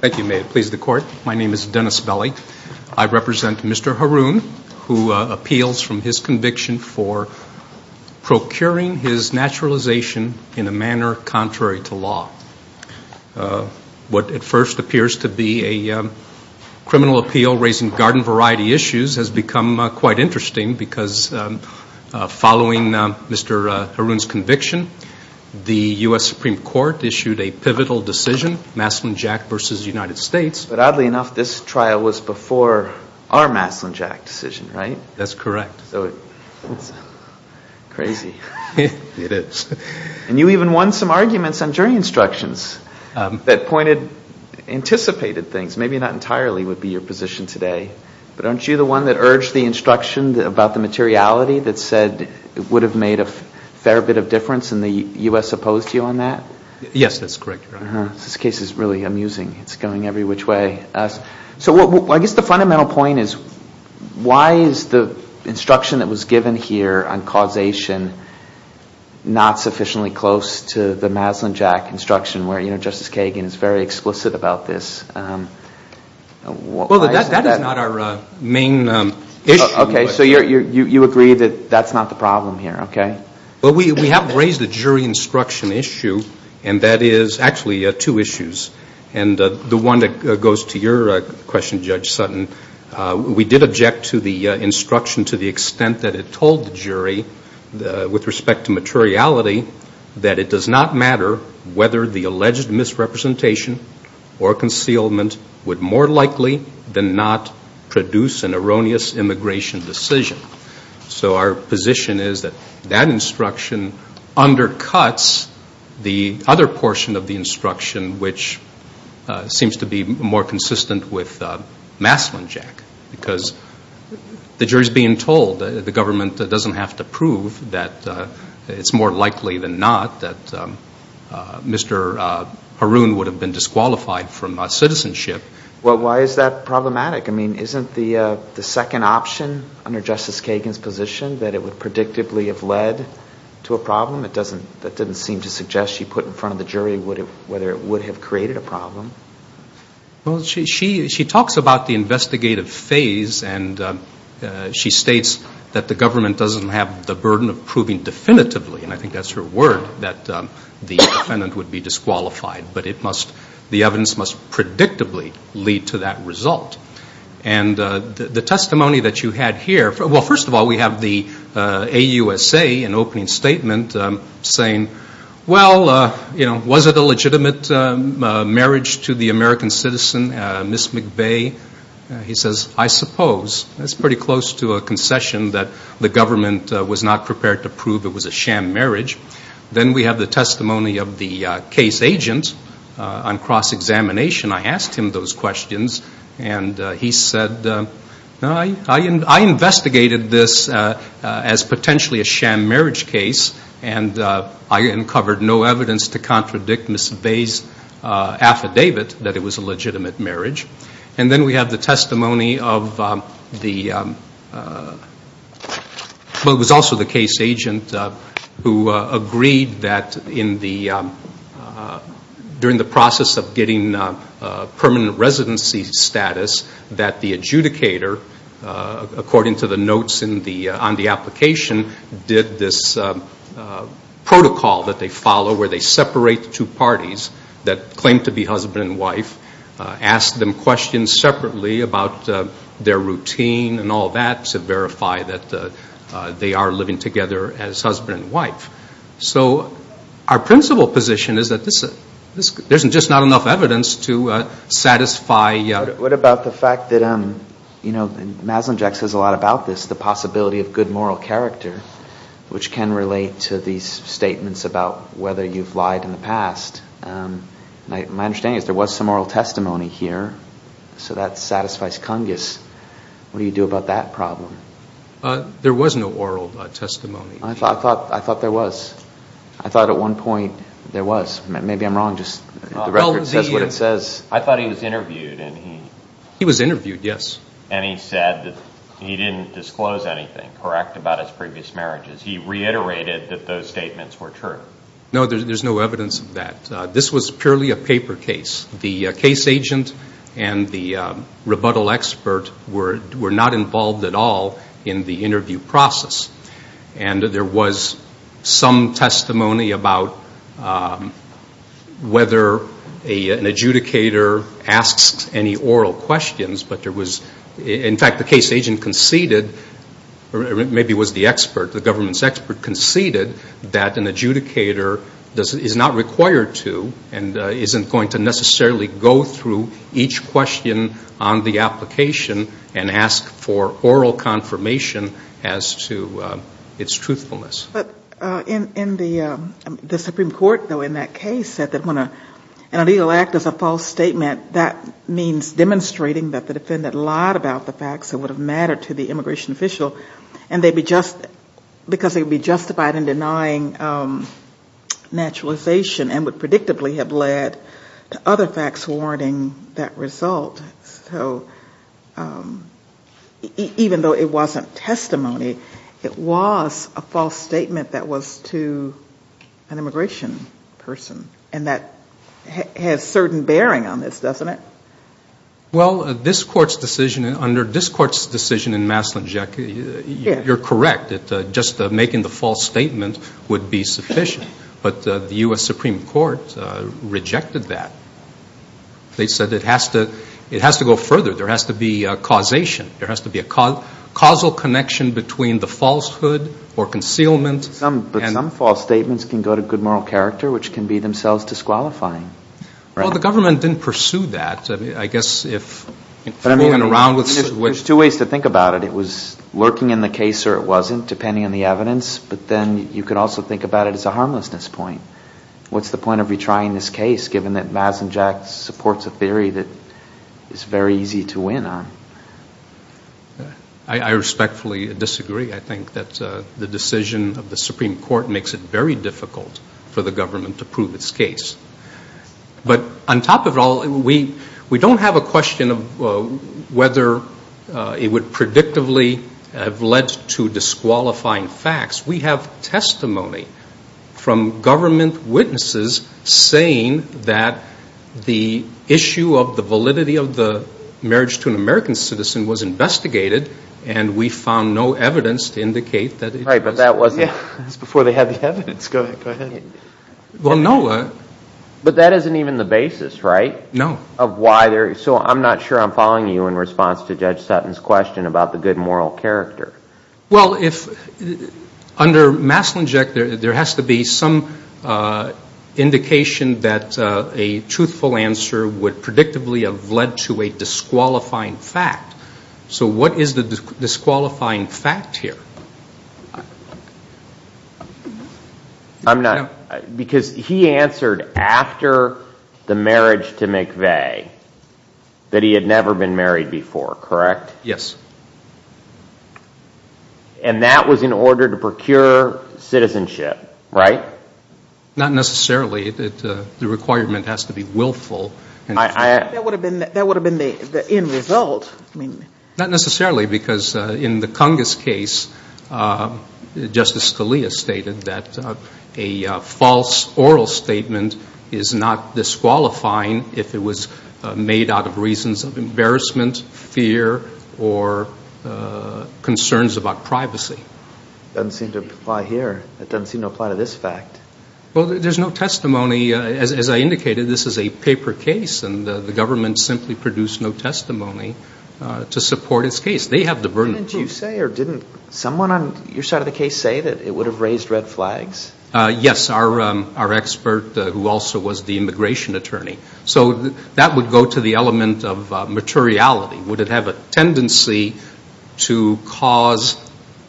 Thank you, Mayor. Please, the Court. My name is Dennis Belli. I represent Mr. Haroon. I appeal from his conviction for procuring his naturalization in a manner contrary to law. What at first appears to be a criminal appeal raising garden variety issues has become quite interesting because following Mr. Haroon's conviction, the U.S. Supreme Court issued a pivotal decision, Maslunjack v. United States. But oddly enough, this trial was before our Maslunjack decision, right? Haroon That's correct. Dennis So it's crazy. Haroon It is. Dennis And you even won some arguments on jury instructions that pointed, anticipated things. Maybe not entirely would be your position today. But aren't you the one that urged the instruction about the materiality that said it would have made a fair bit of difference and the U.S. opposed you on that? Haroon Yes, that's correct. Dennis This case is really amusing. It's going every which way. So I guess the fundamental point is why is the instruction that was given here on causation not sufficiently close to the Maslunjack instruction where Justice Kagan is very explicit about this? Haroon Well, that is not our main issue. Dennis Okay, so you agree that that's not the problem here, okay? Haroon Well, we have raised a jury instruction issue and that is actually two issues. And the one that goes to your question, Judge Sutton, we did object to the instruction to the extent that it told the jury with respect to materiality that it does not matter whether the alleged misrepresentation or concealment would more undercuts the other portion of the instruction which seems to be more consistent with Maslunjack because the jury is being told. The government doesn't have to prove that it's more likely than not that Mr. Haroon would have been disqualified from citizenship. Dennis Well, why is that problematic? I mean, isn't the second option under Justice Kagan's position that it would predictably have led to a problem? That didn't seem to suggest she put in front of the jury whether it would have created a problem. Haroon Well, she talks about the investigative phase and she states that the government doesn't have the burden of proving definitively, and I think that's her word, that the defendant would be disqualified. But the evidence must predictably lead to that result. And the testimony that you had here, well, first of all, we have the AUSA in opening statement saying, well, was it a legitimate marriage to the American citizen, Ms. McVeigh? He says, I suppose. That's pretty close to a concession that the government was not prepared to prove it was a sham marriage. Then we have the testimony of the case agent on cross-examination. I asked him those questions and he said, I investigated this as potentially a sham marriage case and I uncovered no evidence to contradict Ms. McVeigh's affidavit that it was a legitimate marriage. And then we have the testimony of the, well, it was also the case agent who said, well, agreed that in the, during the process of getting permanent residency status, that the adjudicator, according to the notes on the application, did this protocol that they follow where they separate the two parties that claim to be husband and wife, ask them questions separately about their routine and all that to verify that they are living together as husband and wife. So our principal position is that this, there's just not enough evidence to satisfy. What about the fact that, you know, Maslund Jack says a lot about this, the possibility of good moral character, which can relate to these statements about whether you've lied in the past. My understanding is there was some oral testimony here, so that satisfies Cungus. What do you do about that problem? There was no oral testimony. I thought, I thought there was. I thought at one point there was. Maybe I'm wrong, just the record says what it says. I thought he was interviewed and he... He was interviewed, yes. And he said that he didn't disclose anything correct about his previous marriages. He reiterated that those statements were true. No, there's no evidence of that. This was purely a paper case. The case agent and the prosecutor were not involved at all in the interview process. And there was some testimony about whether an adjudicator asks any oral questions, but there was, in fact the case agent conceded, or maybe it was the expert, the government's expert conceded that an adjudicator is not required to and isn't going to necessarily go through each question on the application and ask for oral confirmation as to its truthfulness. But in the Supreme Court, though, in that case said that when a legal act is a false statement, that means demonstrating that the defendant lied about the facts that would have mattered to the immigration official, and they'd be just, because they'd be justified in denying naturalization and would predictably have led to other facts warranting that result. So even though it wasn't testimony, it was a false statement that was to an immigration person. And that has certain bearing on this, doesn't it? Well, this Court's decision, under this Court's decision in Maslin, Jackie, you're correct that just making the false statement would be sufficient. But the U.S. Supreme Court rejected that. They said it has to go further. There has to be a causation. There has to be a causal connection between the falsehood or concealment. But some false statements can go to good moral character, which can be themselves disqualifying. Well, the government didn't pursue that. I guess if moving around with some... There's two ways to think about it. It was lurking in the case or it wasn't, depending on the evidence. But then you could also think about it as a harmlessness point. What's the point of retrying this case, given that Maslin, Jack, supports a theory that is very easy to win on? I respectfully disagree. I think that the decision of the Supreme Court makes it very difficult for the government to prove its case. But on top of it all, we don't have a question of whether it would predictably have led to disqualifying facts. We have testimony from government witnesses saying that the issue of the validity of the marriage to an American citizen was investigated, and we found no evidence to indicate that it was. Right, but that wasn't... Yeah, that was before they had the evidence. Go ahead. Well, no. But that isn't even the basis, right? No. Of why there... So I'm not sure I'm following you in response to Judge Sutton's question about the good moral character. Well, under Maslin, Jack, there has to be some indication that a truthful answer would predictably have led to a disqualifying fact. So what is the disqualifying fact here? I'm not... Because he answered after the marriage to McVeigh that he had never been married before, correct? Yes. And that was in order to procure citizenship, right? Not necessarily. The requirement has to be willful. That would have been the end result. Not necessarily, because in the Cungus case, Justice Scalia stated that a false oral statement is not disqualifying if it was made out of reasons of embarrassment, fear, or concerns about privacy. It doesn't seem to apply here. It doesn't seem to apply to this fact. Well, there's no testimony. As I indicated, this is a paper case, and the government simply can't produce no testimony to support its case. They have the burden. And did you say or didn't someone on your side of the case say that it would have raised red flags? Yes, our expert who also was the immigration attorney. So that would go to the element of materiality. Would it have a tendency to cause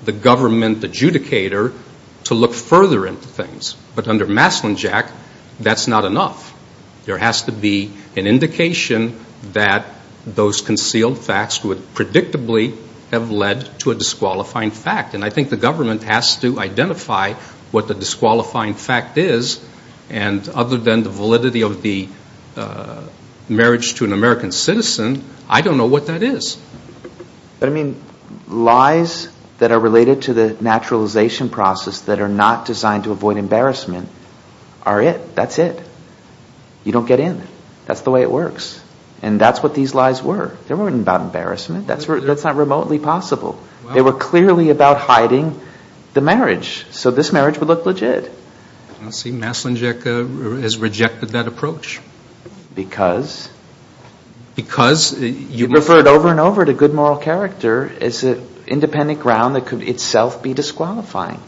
the government adjudicator to look further into things? But under Maslinjack, that's not enough. There has to be an indication that those concealed facts would predictably have led to a disqualifying fact. And I think the government has to identify what the disqualifying fact is. And other than the validity of the marriage to an American citizen, I don't know what that is. But I mean, lies that are related to the naturalization process that are not designed to avoid embarrassment are it. That's it. You don't get in. That's the way it works. And that's what these lies were. They weren't about embarrassment. That's not remotely possible. They were clearly about hiding the marriage. So this marriage would look legit. I don't see Maslinjack as rejecting that approach. Because? Because you refer it over and over to good moral character as an independent ground that could itself be disqualifying.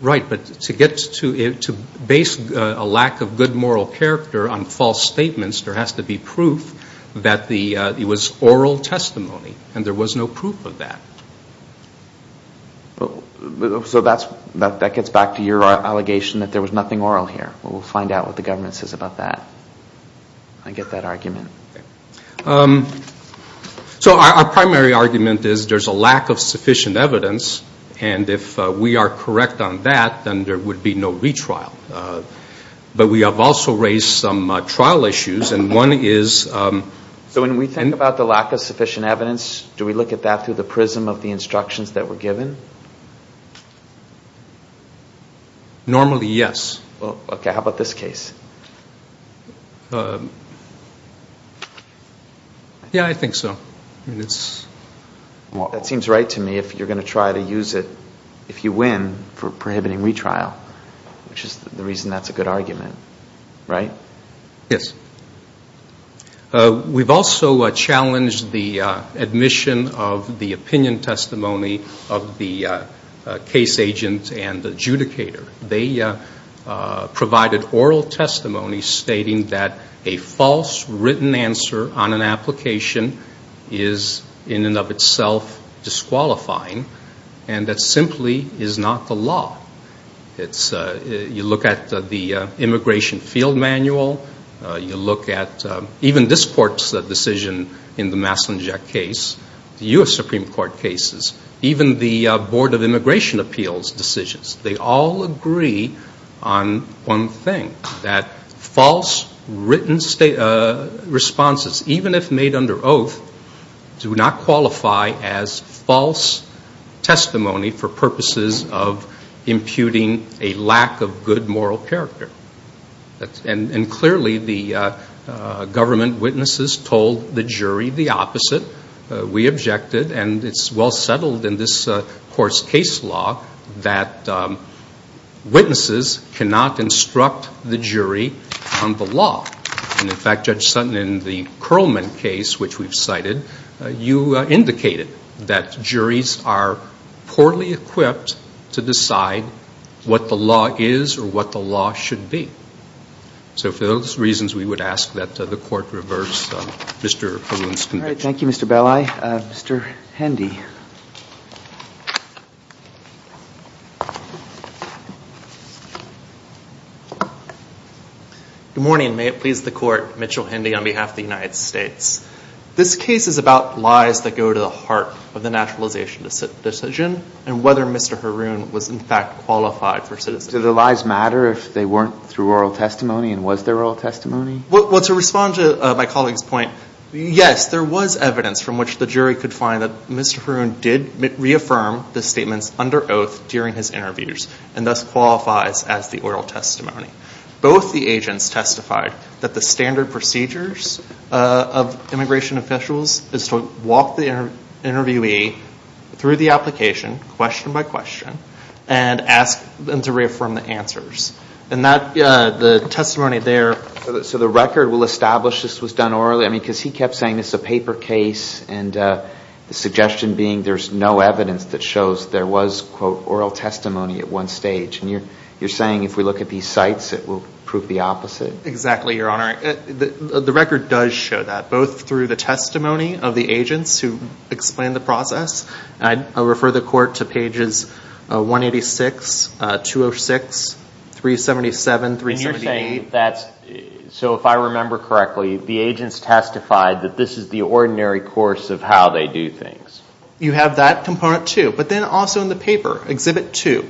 Right. But to base a lack of good moral character on false statements, there has to be proof that it was oral testimony. And there was no proof of that. So that gets back to your allegation that there was nothing oral here. Well, we'll find out what the government says about that. I get that argument. So our primary argument is there's a lack of sufficient evidence. And if we are correct on that, then there would be no retrial. But we have also raised some trial issues. And one is... So when we think about the lack of sufficient evidence, do we look at that through the prism of the instructions that were given? Normally, yes. Okay. How about this case? Yeah, I think so. Well, that seems right to me. If you're going to try to use it, if you win, for prohibiting retrial, which is the reason that's a good argument. Right? Yes. The case agent and the adjudicator, they provided oral testimony stating that a false written answer on an application is in and of itself disqualifying. And that simply is not the law. You look at the immigration field manual. You look at even this court's decision in the Massenet case, the U.S. Supreme Court cases, even the Board of Immigration Appeals decisions. They all agree on one thing, that false written responses, even if made under oath, do not qualify as false testimony for purposes of imputing a lack of good moral character. And clearly, the government witnesses told the jury the opposite. We objected. And it's well settled in this court's case law that witnesses cannot instruct the jury on the law. And in fact, Judge Sutton, in the Curlman case, which we've cited, you indicated that So for those reasons, we would ask that the Court reverse Mr. Haroon's conviction. All right. Thank you, Mr. Belli. Mr. Hendy. Good morning. May it please the Court, Mitchell Hendy on behalf of the United States. This case is about lies that go to the heart of the naturalization decision and whether Mr. Haroon was in fact qualified for citizenship. Do the lies matter if they weren't through oral testimony and was there oral testimony? Well, to respond to my colleague's point, yes, there was evidence from which the jury could find that Mr. Haroon did reaffirm the statements under oath during his interviews and thus qualifies as the oral testimony. Both the agents testified that the standard procedures of immigration officials is to walk the interviewee through the application, question by question, and ask them to reaffirm the answers. And the testimony there... So the record will establish this was done orally? I mean, because he kept saying it's a paper case and the suggestion being there's no evidence that shows there was, quote, oral testimony at one stage. And you're saying if we look at these sites, it will prove the opposite? Exactly, Your Honor. The record does show that, both through the testimony of the agents who explained the process. I refer the Court to pages 186, 206, 377, 378. And you're saying that's... So if I remember correctly, the agents testified that this is the ordinary course of how they do things. You have that component, too. But then also in the paper, Exhibit 2,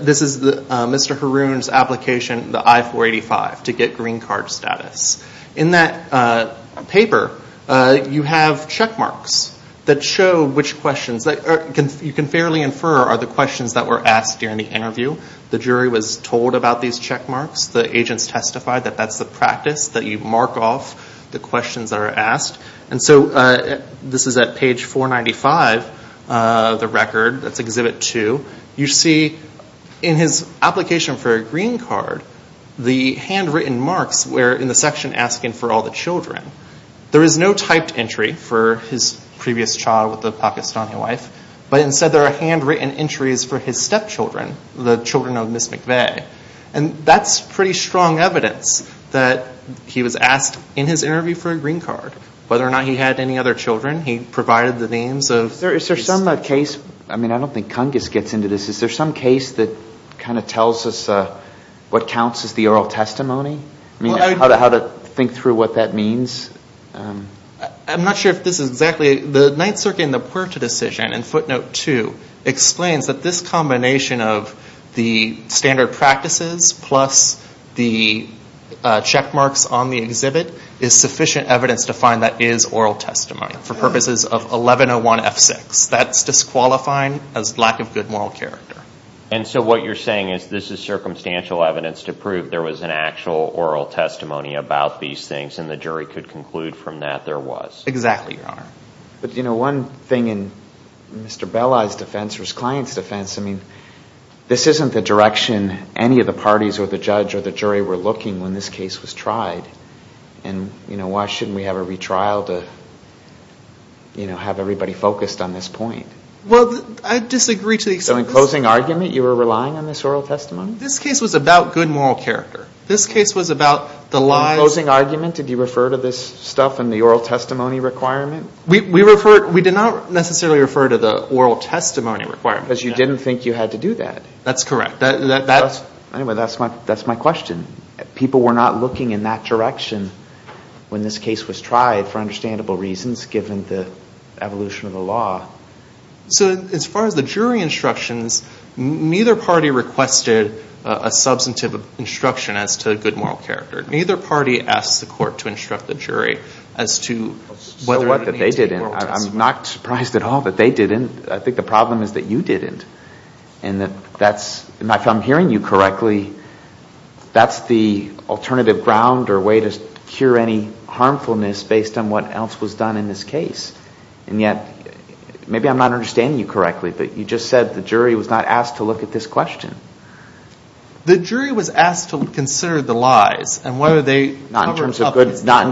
this is Mr. Haroon's application, the I-485, to get green card status. In that paper, you have check marks that show which questions... You can fairly infer are the questions that were asked during the interview. The jury was told about these check marks. The agents testified that that's the practice, that you mark off the questions that are asked. And so this is at page 495 of the record. That's Exhibit 2. You see in his application for a green card, the handwritten marks were in the section asking for all the children. There is no typed entry for his previous child with a Pakistani wife, but instead there are handwritten entries for his stepchildren, the children of Ms. McVeigh. And that's pretty strong evidence that he was asked in his interview for a green card. Whether or not he had any other children, he provided the names of... Is there some case that kind of tells us what counts as the oral testimony? How to think through what that means? I'm not sure if this is exactly... The Ninth Circuit and the Puerta decision in footnote 2 explains that this combination of the standard practices plus the check marks on the exhibit is sufficient evidence to find that is oral testimony. For purposes of 1101F6. That's disqualifying as lack of good moral character. And so what you're saying is this is circumstantial evidence to prove there was an actual oral testimony about these things and the jury could conclude from that there was? Exactly, Your Honor. But, you know, one thing in Mr. Belli's defense or his client's defense, I mean, this isn't the direction any of the parties or the judge or the jury were looking when this case was tried. And, you know, why shouldn't we have a retrial to, you know, have everybody focused on this point? Well, I disagree to the extent... So in closing argument, you were relying on this oral testimony? This case was about good moral character. This case was about the lies... In closing argument, did you refer to this stuff in the oral testimony requirement? We referred... We did not necessarily refer to the oral testimony requirement. Because you didn't think you had to do that. That's correct. Anyway, that's my question. People were not looking in that direction when this case was tried for understandable reasons, given the evolution of the law. So as far as the jury instructions, neither party requested a substantive instruction as to good moral character. Neither party asked the court to instruct the jury as to whether... So what, that they didn't? I'm not surprised at all that they didn't. I think the problem is that you didn't. And that's... If I'm hearing you correctly, that's the alternative ground or way to cure any harmfulness based on what else was done in this case. And yet, maybe I'm not understanding you correctly, but you just said the jury was not asked to look at this question. The jury was asked to consider the lies and whether they... Not in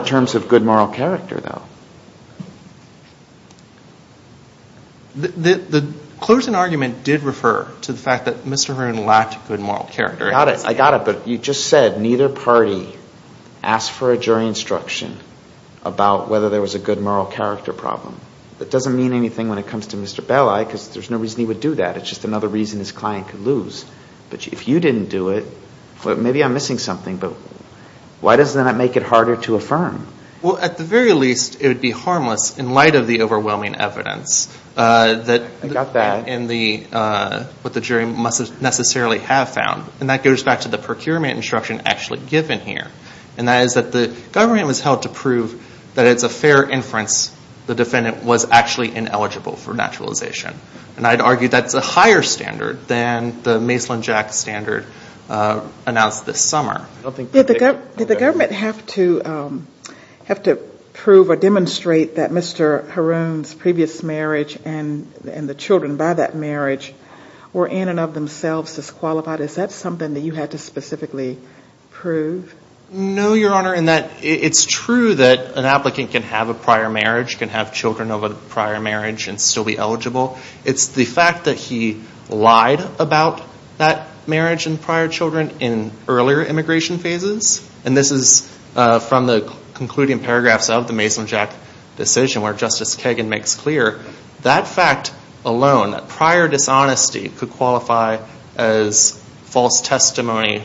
terms of good moral character, though. The closing argument did refer to the fact that Mr. Hearn lacked good moral character. I got it. I got it. But you just said neither party asked for a jury instruction about whether there was a good moral character problem. That doesn't mean anything when it comes to Mr. Belli, because there's no reason he would do that. It's just another reason his client could lose. But if you didn't do it, maybe I'm missing something, but why does that not make it harder to affirm? Well, at the very least, it would be harmless in light of the overwhelming evidence that... I got that. And what the jury must necessarily have found. And that goes back to the procurement instruction actually given here. And that is that the government was held to prove that it's a fair inference the defendant was actually ineligible for naturalization. And I'd argue that's a higher standard than the Maislin-Jack standard announced this summer. Did the government have to prove or demonstrate that Mr. Haroun's previous marriage and the children by that marriage were in and of themselves disqualified? Is that something that you had to specifically prove? No, Your Honor, in that it's true that an applicant can have a prior marriage, can have children of a prior marriage and still be eligible. It's the fact that he lied about that marriage and prior children in earlier immigration phases. And this is from the concluding paragraphs of the Maislin-Jack decision where Justice Kagan makes clear that fact alone, that prior dishonesty could qualify as false testimony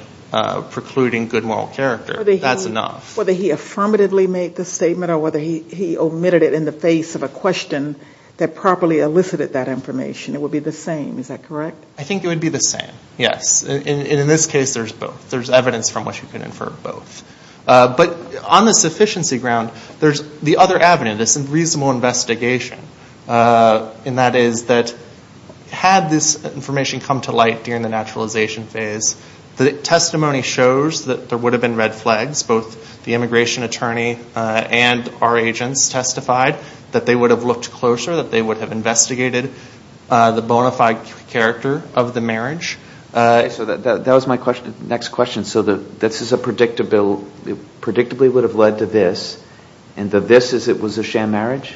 precluding good moral character. That's enough. Whether he affirmatively made the statement or whether he omitted it in the face of a question that properly elicited that information. It would be the same, is that correct? I think it would be the same, yes. And in this case, there's both. There's evidence from which you can infer both. But on the sufficiency ground, there's the other avenue, this reasonable investigation. And that is that had this information come to light during the naturalization phase, the testimony shows that there would have been red flags, both the immigration attorney and our agents testified that they would have looked closer, that they would have investigated the bona fide character of the marriage. So that was my next question. So this predictably would have led to this, and the this is it was a sham marriage?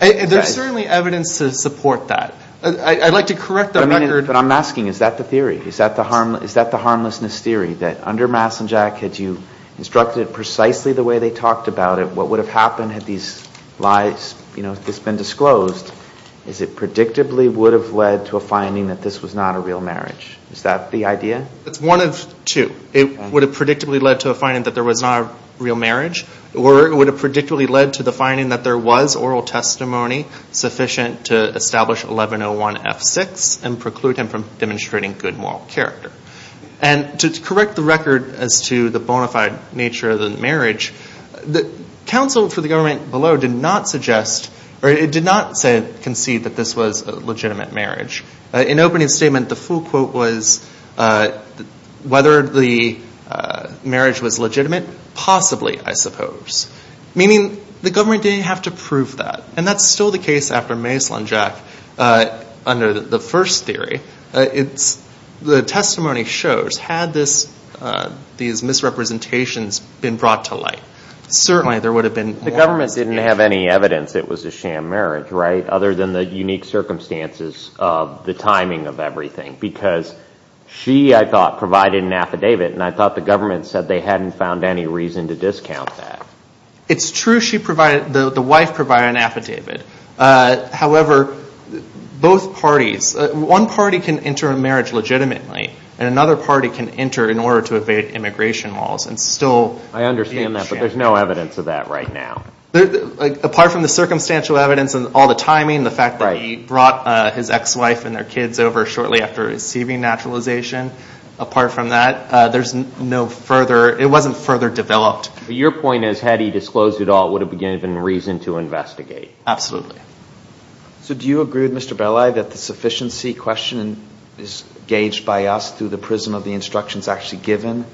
There's certainly evidence to support that. I'd like to correct the record. But I'm asking, is that the theory? Is that the harmlessness theory, that under Maislin-Jack had you instructed precisely the way they talked about it, what would have happened had this been disclosed? Is it predictably would have led to a finding that this was not a real marriage? Is that the idea? It's one of two. It would have predictably led to a finding that there was not a real marriage, or it would have predictably led to the finding that there was oral testimony sufficient to establish 1101F6 and preclude him from demonstrating good moral character. And to correct the record as to the bona fide nature of the marriage, counsel for the government below did not suggest, or it did not concede that this was a legitimate marriage. In opening statement, the full quote was, whether the marriage was legitimate? Possibly, I suppose. Meaning the government didn't have to prove that. And that's still the case after Maislin-Jack under the first theory. The testimony shows, had these misrepresentations been brought to light, certainly there would have been more. The government didn't have any evidence it was a sham marriage, right, other than the unique circumstances of the timing of everything. Because she, I thought, provided an affidavit, and I thought the government said they hadn't found any reason to discount that. It's true the wife provided an affidavit. However, both parties, one party can enter a marriage legitimately, and another party can enter in order to evade immigration laws. I understand that, but there's no evidence of that right now. Apart from the circumstantial evidence and all the timing, the fact that he brought his ex-wife and their kids over shortly after receiving naturalization, apart from that, there's no further, it wasn't further developed. Your point is, had he disclosed it all, would have been given reason to investigate. Absolutely. So do you agree with Mr. Belli that the sufficiency question is gauged by us through the prism of the instructions actually given,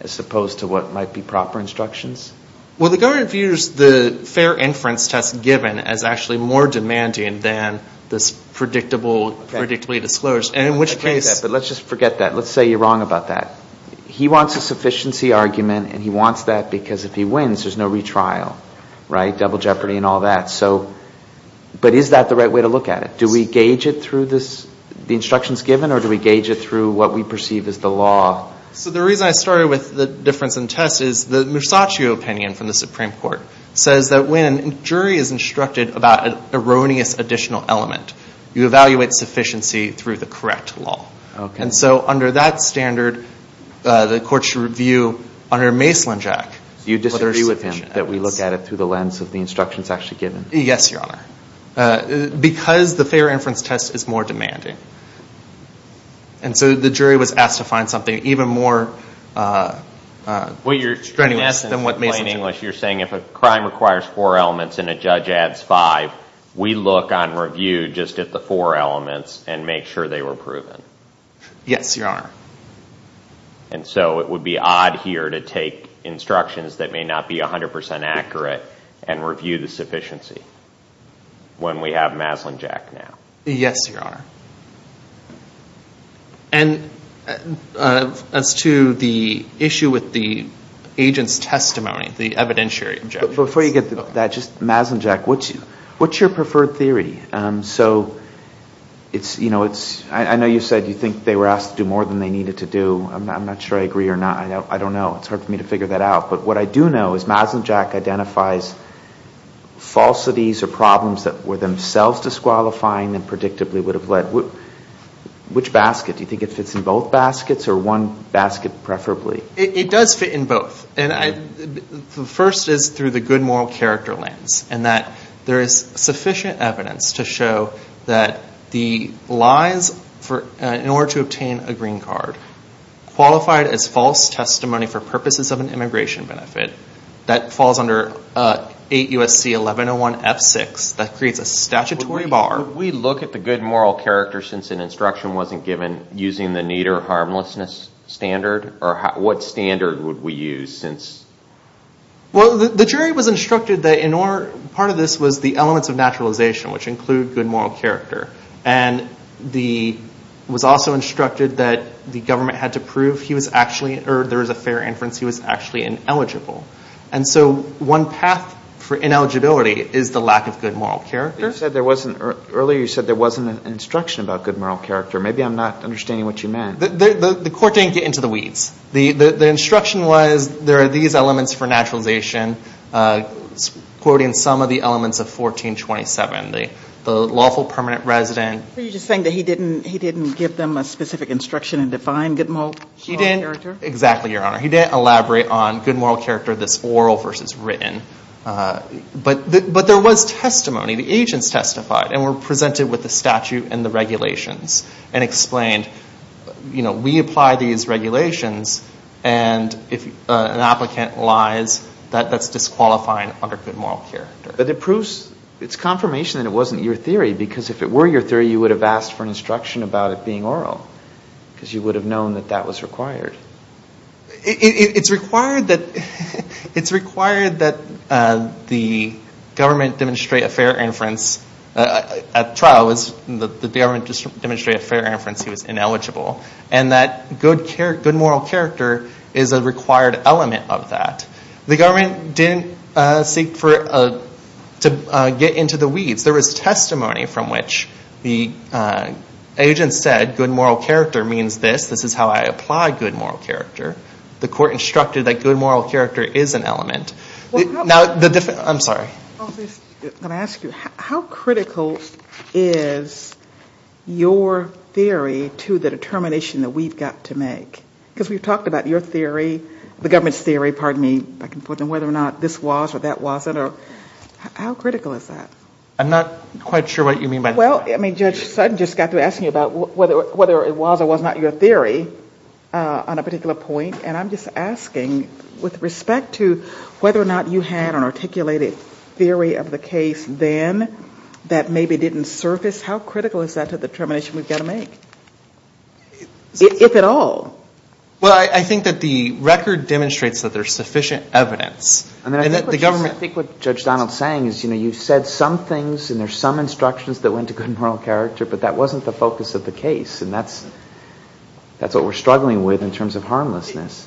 as opposed to what might be proper instructions? Well, the government views the fair inference test given as actually more demanding than this predictably disclosed, and in which case... Okay, but let's just forget that. Let's say you're wrong about that. He wants a sufficiency argument, and he wants that because if he wins, there's no retrial. Right? Double jeopardy and all that. But is that the right way to look at it? Do we gauge it through the instructions given, or do we gauge it through what we perceive as the law? So the reason I started with the difference in test is the Musacchio opinion from the Supreme Court says that when a jury is instructed about an erroneous additional element, you evaluate sufficiency through the correct law. And so under that standard, the court should review under a Mace-Lynch Act... Do you disagree with him that we look at it through the lens of the instructions actually given? Yes, Your Honor. Because the fair inference test is more demanding. And so the jury was asked to find something even more strenuous than what Mace-Lynch... You're saying if a crime requires four elements and a judge adds five, we look on review just at the four elements and make sure they were proven? Yes, Your Honor. And so it would be odd here to take instructions that may not be 100% accurate and review the sufficiency when we have Maslin-Jack now. Yes, Your Honor. And as to the issue with the agent's testimony, the evidentiary... Before you get to that, just Maslin-Jack, what's your preferred theory? I know you said you think they were asked to do more than they needed to do. I'm not sure I agree or not. I don't know. It's hard for me to figure that out. But what I do know is Maslin-Jack identifies falsities or problems that were themselves disqualifying and predictably would have led... Which basket? Do you think it fits in both baskets or one basket preferably? It does fit in both. The first is through the good moral character lens and that there is sufficient evidence to show that the lies in order to obtain a green card qualified as false testimony for purposes of an immigration benefit, that falls under 8 U.S.C. 1101 F6, that creates a statutory bar. Could we look at the good moral character since an instruction wasn't given using the neater harmlessness standard? Or what standard would we use since... Well, the jury was instructed that part of this was the elements of naturalization, which include good moral character. And it was also instructed that the government had to prove there was a fair inference he was actually ineligible. And so one path for ineligibility is the lack of good moral character. Earlier you said there wasn't an instruction about good moral character. Maybe I'm not understanding what you meant. The court didn't get into the weeds. The instruction was there are these elements for naturalization, quoting some of the elements of 1427, the lawful permanent resident. Are you just saying that he didn't give them a specific instruction and define good moral character? He didn't. Exactly, Your Honor. He didn't elaborate on good moral character, this oral versus written. But there was testimony. The agents testified and were presented with the statute and the regulations and explained, you know, we apply these regulations, and if an applicant lies, that's disqualifying under good moral character. But it proves, it's confirmation that it wasn't your theory, because if it were your theory, you would have asked for an instruction about it being oral, because you would have known that that was required. It's required that the government demonstrate a fair inference. At trial, the government demonstrated a fair inference he was ineligible, and that good moral character is a required element of that. The government didn't seek to get into the weeds. There was testimony from which the agents said good moral character means this. This is how I apply good moral character. The court instructed that good moral character is an element. Now, I'm sorry. Let me ask you, how critical is your theory to the determination that we've got to make? Because we've talked about your theory, the government's theory, pardon me, whether or not this was or that wasn't. How critical is that? I'm not quite sure what you mean by that. Well, I mean, Judge Sutton just got to asking you about whether it was or was not your theory on a particular point, and I'm just asking with respect to whether or not you had an articulated theory of the case then that maybe didn't surface, how critical is that to the determination we've got to make, if at all? Well, I think that the record demonstrates that there's sufficient evidence. I think what Judge Donald's saying is, you know, you've said some things and there's some instructions that went to good moral character, but that wasn't the focus of the case, and that's what we're struggling with in terms of harmlessness.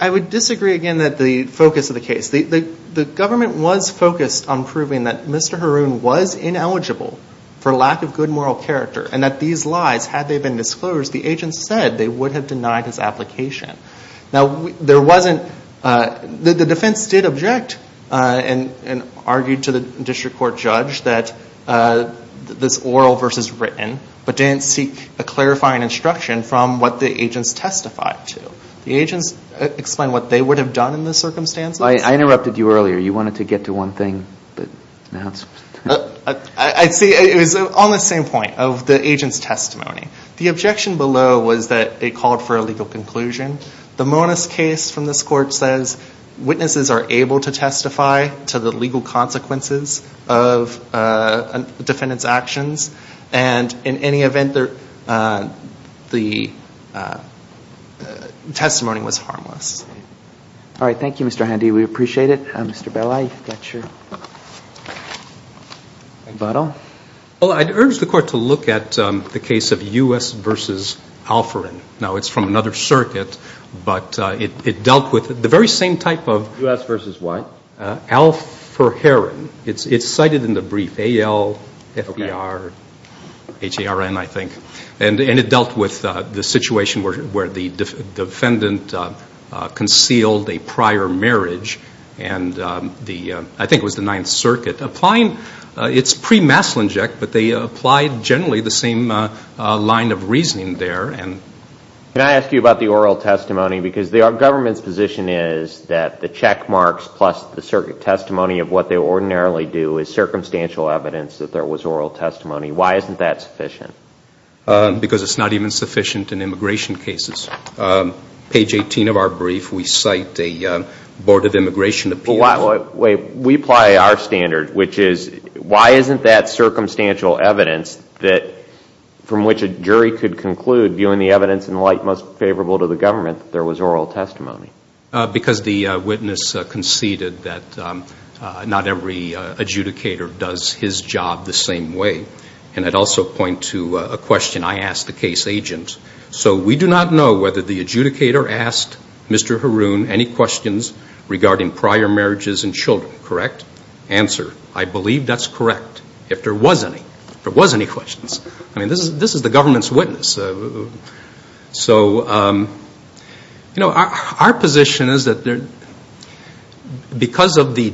I would disagree again that the focus of the case. The government was focused on proving that Mr. Haroun was ineligible for lack of good moral character and that these lies, had they been disclosed, the agents said they would have denied his application. Now, there wasn't, the defense did object and argue to the district court judge that this oral versus written, but didn't seek a clarifying instruction from what the agents testified to. The agents explained what they would have done in the circumstances. I interrupted you earlier. You wanted to get to one thing, but now it's... I see, it was on the same point of the agent's testimony. The objection below was that they called for a legal conclusion. The Monis case from this court says witnesses are able to testify to the legal consequences of a defendant's actions, and in any event, the testimony was harmless. All right, thank you, Mr. Handy. We appreciate it. Mr. Belay, you've got your bottle. Well, I'd urge the court to look at the case of U.S. versus Alforin. Now, it's from another circuit, but it dealt with the very same type of... U.S. versus what? Alforherin. It's cited in the brief, A-L-F-E-R-H-A-R-N, I think. And it dealt with the situation where the defendant concealed a prior marriage, and I think it was the Ninth Circuit. It's pre-Maslinjic, but they applied generally the same line of reasoning there. Can I ask you about the oral testimony? Because the government's position is that the check marks plus the circuit testimony of what they ordinarily do is circumstantial evidence that there was oral testimony. Why isn't that sufficient? Because it's not even sufficient in immigration cases. Page 18 of our brief, we cite a Board of Immigration Appeals. We apply our standard, which is why isn't that circumstantial evidence from which a jury could conclude, viewing the evidence in light most favorable to the government, that there was oral testimony? Because the witness conceded that not every adjudicator does his job the same way. And I'd also point to a question I asked the case agent. So we do not know whether the adjudicator asked Mr. Haroon any questions regarding prior marriages and children, correct? Answer, I believe that's correct, if there was any. If there was any questions. I mean, this is the government's witness. So, you know, our position is that because of the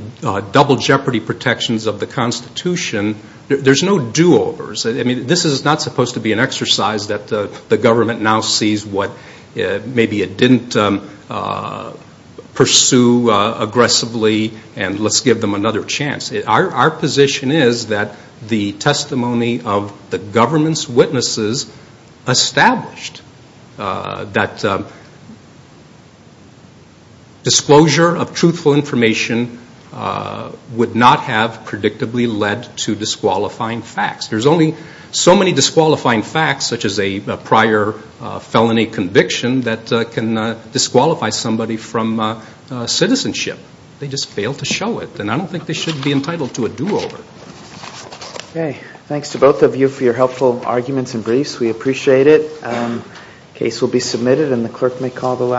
double jeopardy protections of the Constitution, there's no do-overs. I mean, this is not supposed to be an exercise that the government now sees what maybe it didn't pursue aggressively and let's give them another chance. Our position is that the testimony of the government's witnesses established that disclosure of truthful information would not have predictably led to disqualifying facts. There's only so many disqualifying facts, such as a prior felony conviction, that can disqualify somebody from citizenship. They just fail to show it. And I don't think they should be entitled to a do-over. Okay. Thanks to both of you for your helpful arguments and briefs. We appreciate it. The case will be submitted and the clerk may call the last.